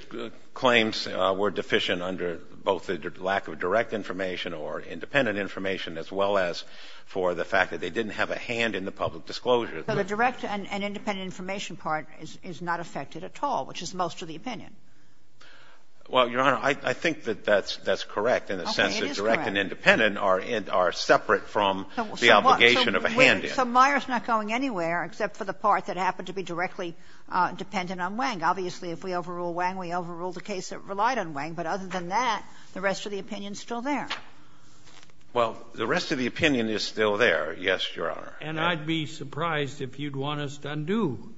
claims were deficient under both the lack of direct information or independent information, as well as for the fact that they didn't have a hand in the public disclosure. So the direct and independent information part is not affected at all, which is most of the opinion. Well, Your Honor, I think that that's correct in the sense that direct and independent are separate from the obligation of a hand in. So Meyer is not going anywhere except for the part that happened to be directly dependent on Wang. Obviously, if we overrule Wang, we overrule the case that relied on Wang, but other than that, the rest of the opinion is still there. Well, the rest of the opinion is still there, yes, Your Honor. And I'd be surprised if you'd want us to undo.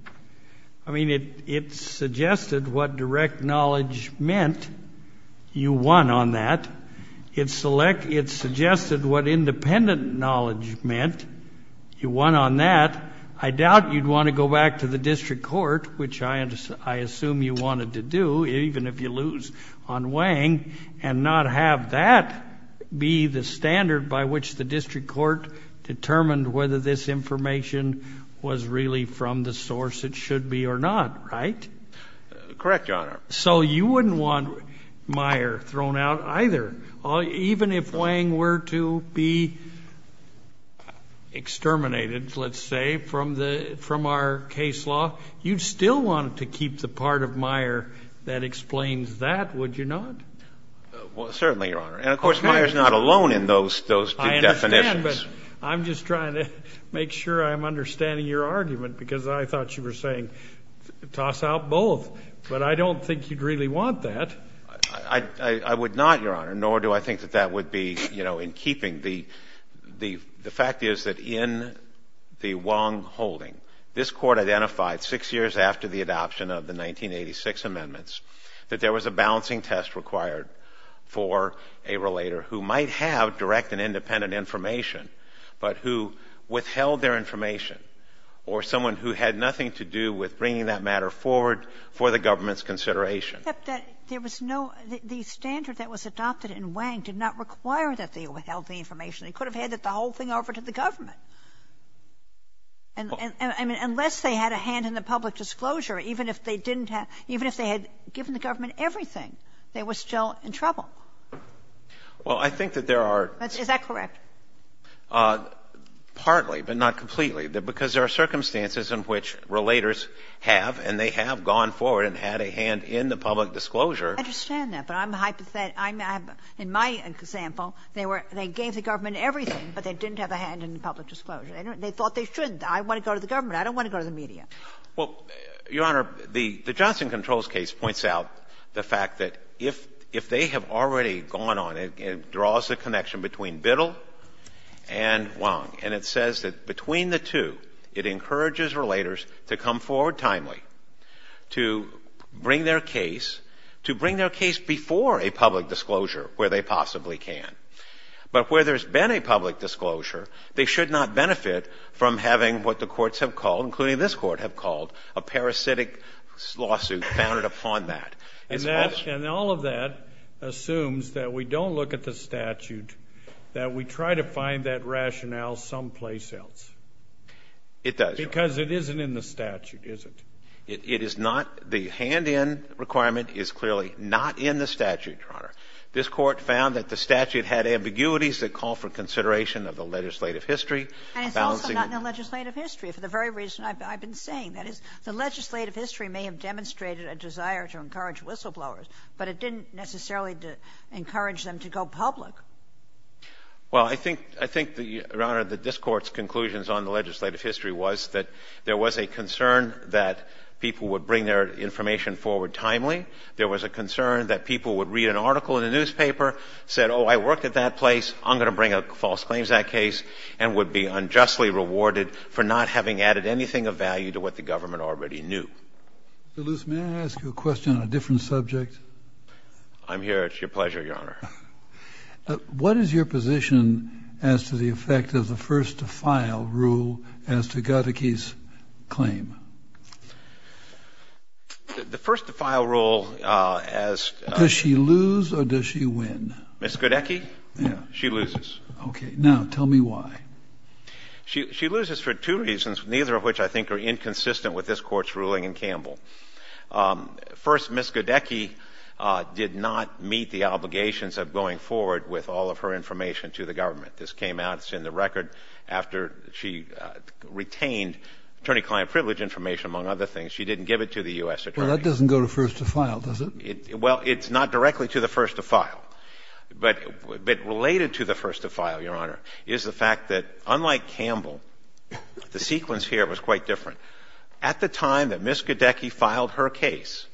I mean, it suggested what direct knowledge meant. You won on that. It suggested what independent knowledge meant. You won on that. I doubt you'd want to go back to the district court, which I assume you wanted to do, even if you lose on Wang, and not have that be the standard by which the district court determined whether this information was really from the source it should be or not, right? Correct, Your Honor. So you wouldn't want Meyer thrown out either. Even if Wang were to be exterminated, let's say, from our case law, you'd still want to keep the part of Meyer that explains that, would you not? Well, certainly, Your Honor. And, of course, Meyer is not alone in those two definitions. I'm just trying to make sure I'm understanding your argument, because I thought you were saying toss out both. But I don't think you'd really want that. I would not, Your Honor, nor do I think that that would be, you know, in keeping. The fact is that in the Wang holding, this Court identified six years after the adoption of the 1986 amendments that there was a balancing test required for a relator who might have direct and independent information, but who withheld their information, or someone who had nothing to do with bringing that matter forward for the government's consideration. But there was no — the standard that was adopted in Wang did not require that they withheld the information. They could have handed the whole thing over to the government. I mean, unless they had a hand in the public disclosure, even if they didn't have Well, I think that there are — Is that correct? Partly, but not completely, because there are circumstances in which relators have, and they have gone forward and had a hand in the public disclosure. I understand that, but I'm hypothetical. In my example, they were — they gave the government everything, but they didn't have a hand in the public disclosure. They thought they shouldn't. I want to go to the government. I don't want to go to the media. Well, Your Honor, the Johnson Controls case points out the fact that if they have already gone on, it draws the connection between Biddle and Wang, and it says that between the two, it encourages relators to come forward timely to bring their case — to bring their case before a public disclosure where they possibly can. But where there's been a public disclosure, they should not benefit from having including this Court have called a parasitic lawsuit founded upon that. And that — and all of that assumes that we don't look at the statute, that we try to find that rationale someplace else. It does, Your Honor. Because it isn't in the statute, is it? It is not. The hand-in requirement is clearly not in the statute, Your Honor. This Court found that the statute had ambiguities that call for consideration of the legislative history, balancing — And it's also not in the legislative history, for the very reason I've been saying. That is, the legislative history may have demonstrated a desire to encourage whistleblowers, but it didn't necessarily encourage them to go public. Well, I think — I think, Your Honor, that this Court's conclusions on the legislative history was that there was a concern that people would bring their information forward timely. There was a concern that people would read an article in the newspaper, said, oh, I worked at that place, I'm going to bring up false claims to that case, and would be unjustly rewarded for not having added anything of value to what the government already knew. Mr. Luce, may I ask you a question on a different subject? I'm here. It's your pleasure, Your Honor. What is your position as to the effect of the first-to-file rule as to Gadecki's claim? The first-to-file rule, as — Does she lose or does she win? Ms. Gadecki? Yeah. She loses. Okay. Now, tell me why. She loses for two reasons, neither of which I think are inconsistent with this Court's ruling in Campbell. First, Ms. Gadecki did not meet the obligations of going forward with all of her information to the government. This came out — it's in the record — after she retained attorney-client privilege information, among other things. She didn't give it to the U.S. Attorney. Well, that doesn't go to first-to-file, does it? Well, it's not directly to the first-to-file. But related to the first-to-file, Your Honor, is the fact that, unlike Campbell, the sequence here was quite different. At the time that Ms. Gadecki filed her case,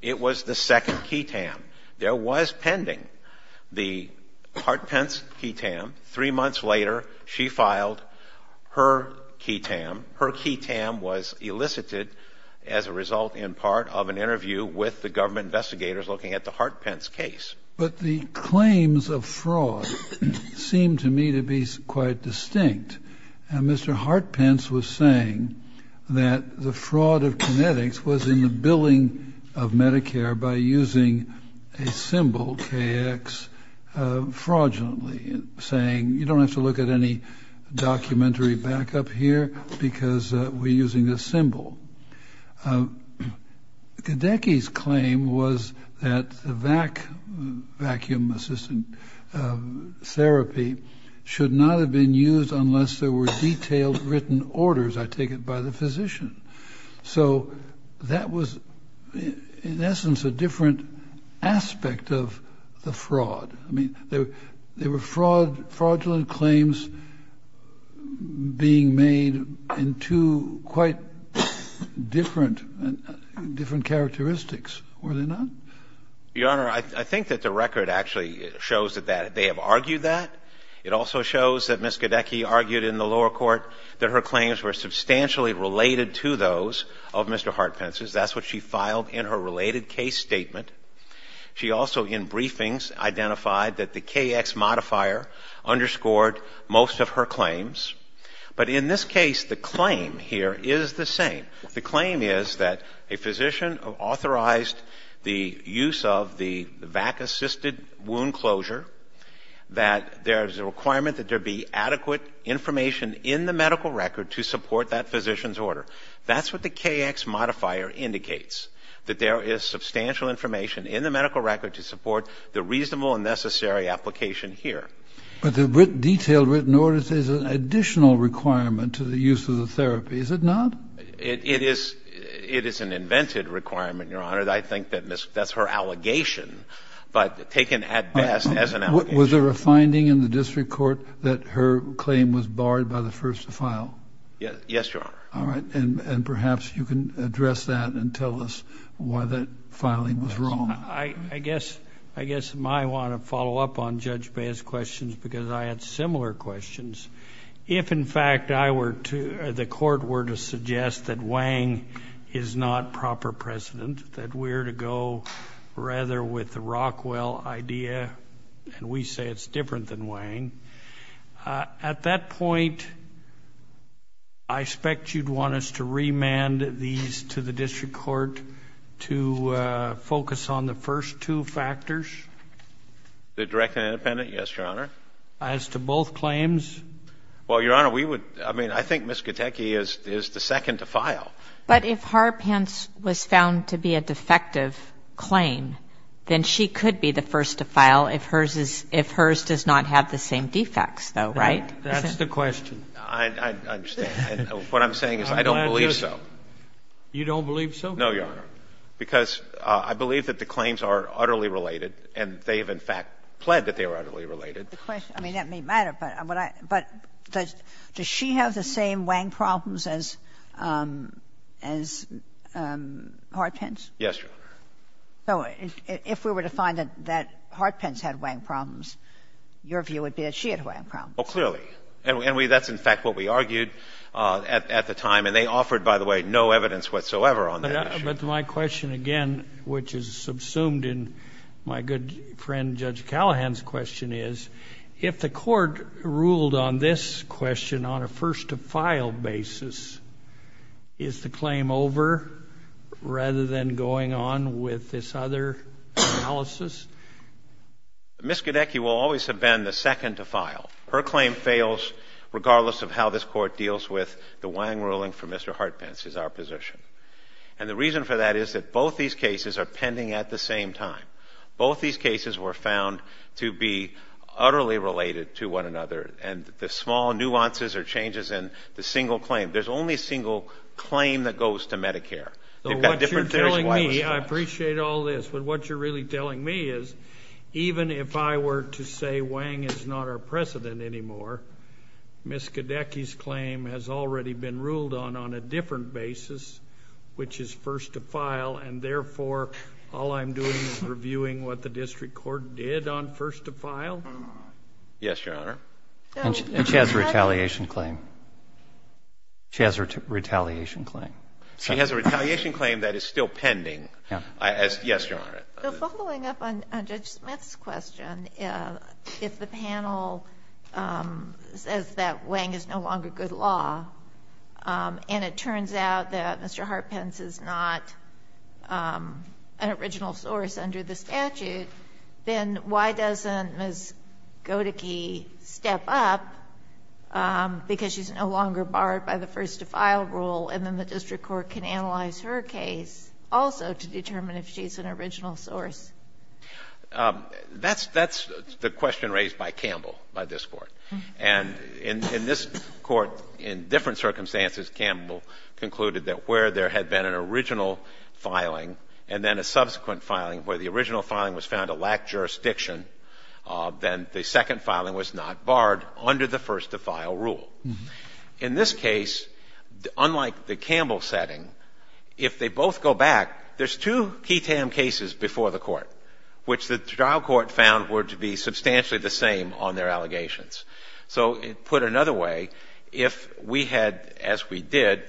it was the second QI-TAM. There was pending the Hart-Pence QI-TAM. Three months later, she filed her QI-TAM. Her QI-TAM was elicited as a result in part of an interview with the government investigators looking at the Hart-Pence case. But the claims of fraud seem to me to be quite distinct. And Mr. Hart-Pence was saying that the fraud of Kinetics was in the billing of Medicare by using a symbol, KX, fraudulently, saying, you don't have to look at any documentary back up here because we're using this symbol. Gadecki's claim was that the vacuum-assisted therapy should not have been used unless there were detailed written orders, I take it, by the physician. So that was, in essence, a different aspect of the fraud. I mean, they were fraudulent claims being made in two quite different characteristics, were they not? Your Honor, I think that the record actually shows that they have argued that. It also shows that Ms. Gadecki argued in the lower court that her claims were substantially related to those of Mr. Hart-Pence's. That's what she filed in her related case statement. She also, in briefings, identified that the KX modifier underscored most of her claims. But in this case, the claim here is the same. The claim is that a physician authorized the use of the vacuum-assisted wound closure, that there is a requirement that there be adequate information in the medical record to support that physician's order. That's what the KX modifier indicates, that there is substantial information in the medical record to support the reasonable and necessary application here. But the detailed written orders is an additional requirement to the use of the therapy, is it not? It is an invented requirement, Your Honor. I think that that's her allegation, but taken at best as an allegation. Was there a finding in the district court that her claim was barred by the first to file? Yes, Your Honor. All right. And perhaps you can address that and tell us why that filing was wrong. I guess I want to follow up on Judge Baez's questions because I had similar questions. If, in fact, the court were to suggest that Wang is not proper precedent, that we're to go rather with the Rockwell idea, and we say it's different than Wang, at that point, I expect you'd want us to remand these to the district court to focus on the first two factors? The direct and independent, yes, Your Honor. As to both claims? Well, Your Honor, we would — I mean, I think Ms. Gutecki is the second to file. But if Harpence was found to be a defective claim, then she could be the first to file. That's the question. I understand. And what I'm saying is I don't believe so. You don't believe so? No, Your Honor. Because I believe that the claims are utterly related, and they have, in fact, pled that they are utterly related. I mean, that may matter, but does she have the same Wang problems as Harpence? Yes, Your Honor. So if we were to find that Harpence had Wang problems, your view would be that she had Wang problems? Oh, clearly. And that's, in fact, what we argued at the time. And they offered, by the way, no evidence whatsoever on that issue. But my question, again, which is subsumed in my good friend Judge Callahan's question is, if the court ruled on this question on a first-to-file basis, is the claim over rather than going on with this other analysis? Ms. Gidecki will always have been the second to file. Her claim fails regardless of how this court deals with the Wang ruling for Mr. Harpence is our position. And the reason for that is that both these cases are pending at the same time. Both these cases were found to be utterly related to one another, and the small nuances or changes in the single claim. There's only a single claim that goes to Medicare. What you're telling me, I appreciate all this, but what you're really telling me is even if I were to say Wang is not our precedent anymore, Ms. Gidecki's claim has already been ruled on on a different basis, which is first-to-file, and therefore all I'm doing is reviewing what the district court did on first-to-file? Yes, Your Honor. And she has a retaliation claim. She has a retaliation claim. She has a retaliation claim that is still pending. Yes, Your Honor. The following up on Judge Smith's question, if the panel says that Wang is no longer good law, and it turns out that Mr. Harpence is not an original source under the statute, then why doesn't Ms. Gidecki step up because she's no longer barred by the first-to-file rule, and then the district court can analyze her case also to determine if she's an original source? That's the question raised by Campbell, by this Court. And in this Court, in different circumstances, Campbell concluded that where there had been an original filing and then a subsequent filing where the original filing was found to lack jurisdiction, then the second filing was not barred under the first-to-file rule. In this case, unlike the Campbell setting, if they both go back, there's two key tam cases before the Court, which the trial court found were to be substantially the same on their allegations. So put another way, if we had, as we did,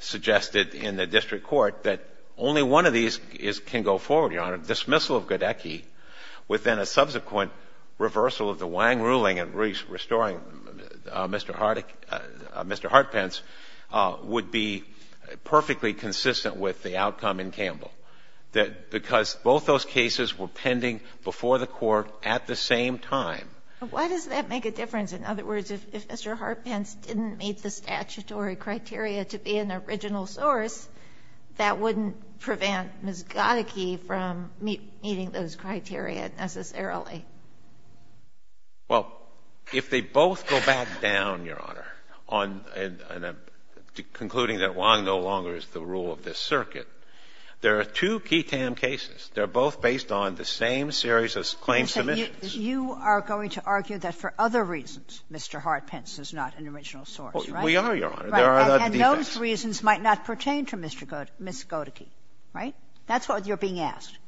suggested in the district court that only one of these can go forward, Your Honor, dismissal of Gidecki within a subsequent reversal of the Wang ruling in restoring Mr. Harpence would be perfectly consistent with the outcome in Campbell, that because both those cases were pending before the Court at the same time. But why does that make a difference? In other words, if Mr. Harpence didn't meet the statutory criteria to be an original source, that wouldn't prevent Ms. Gidecki from meeting those criteria necessarily. Well, if they both go back down, Your Honor, on the concluding that Wang no longer is the rule of this circuit, there are two key tam cases. They're both based on the same series of claim submissions. You are going to argue that for other reasons Mr. Harpence is not an original source, right? We are, Your Honor. There are other reasons. Those reasons might not pertain to Ms. Gidecki, right? That's what you're being asked.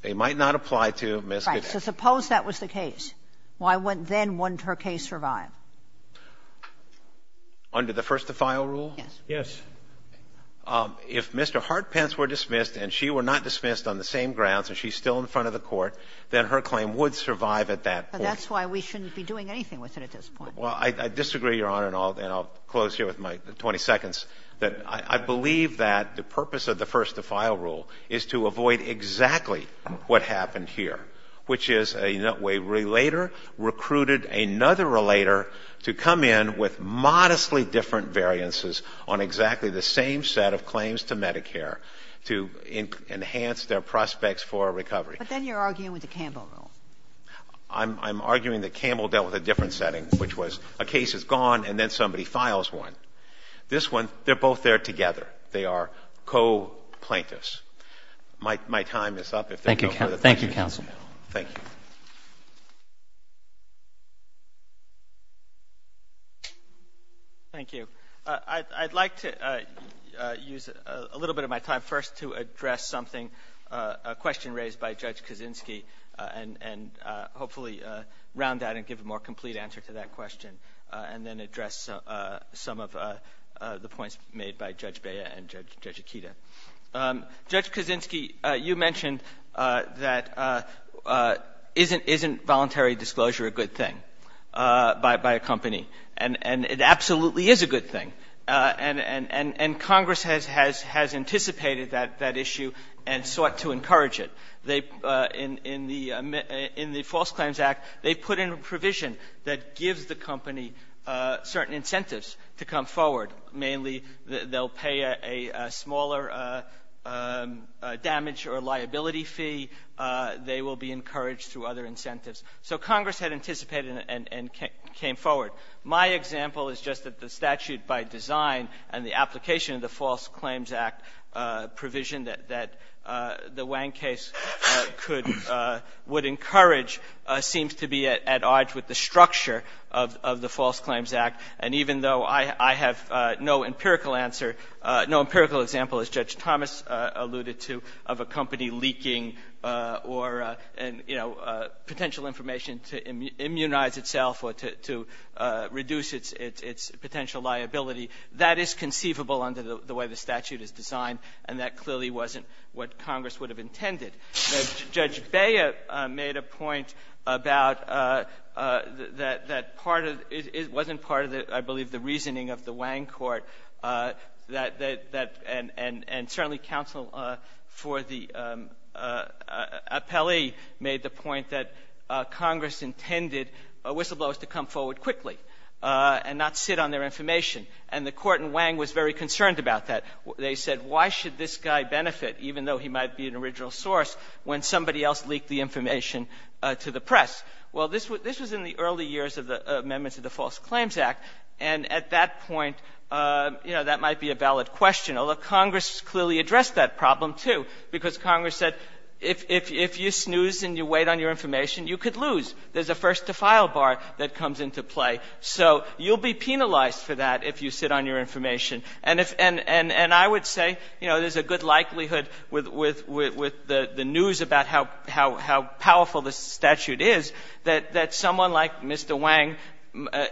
They might not apply to Ms. Gidecki. Right. So suppose that was the case. Why then wouldn't her case survive? Under the first defile rule? Yes. Yes. If Mr. Harpence were dismissed and she were not dismissed on the same grounds and she's still in front of the Court, then her claim would survive at that point. But that's why we shouldn't be doing anything with it at this point. Well, I disagree, Your Honor, and I'll close here with my 20 seconds, that I believe that the purpose of the first defile rule is to avoid exactly what happened here, which is a way a relater recruited another relater to come in with modestly different variances on exactly the same set of claims to Medicare to enhance their prospects for recovery. But then you're arguing with the Campbell rule. I'm arguing that Campbell dealt with a different setting, which was a case is gone and then somebody files one. This one, they're both there together. They are co-plaintiffs. My time is up. Thank you, counsel. Thank you. Thank you. I'd like to use a little bit of my time first to address something, a question raised by Judge Kaczynski, and hopefully round out and give a more complete answer to that question, and then address some of the points made by Judge Bea and Judge Akita. Judge Kaczynski, you mentioned that isn't voluntary disclosure a good thing by a company? And it absolutely is a good thing. And Congress has anticipated that issue and sought to encourage it. In the False Claims Act, they put in a provision that gives the company certain incentives to come forward, mainly they'll pay a smaller damage or liability fee. They will be encouraged through other incentives. So Congress had anticipated and came forward. My example is just that the statute by design and the application of the False Claims Act provision that the Wang case would encourage seems to be at odds with the structure of the False Claims Act. And even though I have no empirical answer, no empirical example, as Judge Thomas alluded to, of a company leaking or, you know, potential information to immunize itself or to reduce its potential liability, that is conceivable under the way the statute is designed, and that clearly wasn't what Congress would have intended. Judge Bea made a point about that part of — it wasn't part of, I believe, the reasoning of the Wang court that — and certainly counsel for the appellee made the point that they intended whistleblowers to come forward quickly and not sit on their information, and the court in Wang was very concerned about that. They said, why should this guy benefit, even though he might be an original source, when somebody else leaked the information to the press? Well, this was in the early years of the amendments of the False Claims Act, and at that point, you know, that might be a valid question, although Congress clearly addressed that problem, too, because Congress said if you snooze and you wait on your information, you could lose. There's a first-to-file bar that comes into play. So you'll be penalized for that if you sit on your information. And if — and I would say, you know, there's a good likelihood with the news about how powerful this statute is that someone like Mr. Wang,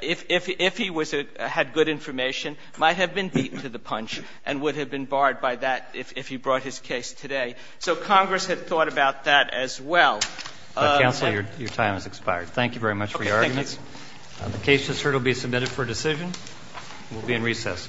if he had good information, might have been beat to the punch and would have been barred by that if he brought his case today. So Congress had thought about that as well. Counsel, your time has expired. Thank you very much for your arguments. Okay, thank you. The case has heard will be submitted for decision. We'll be in recess. Thank you.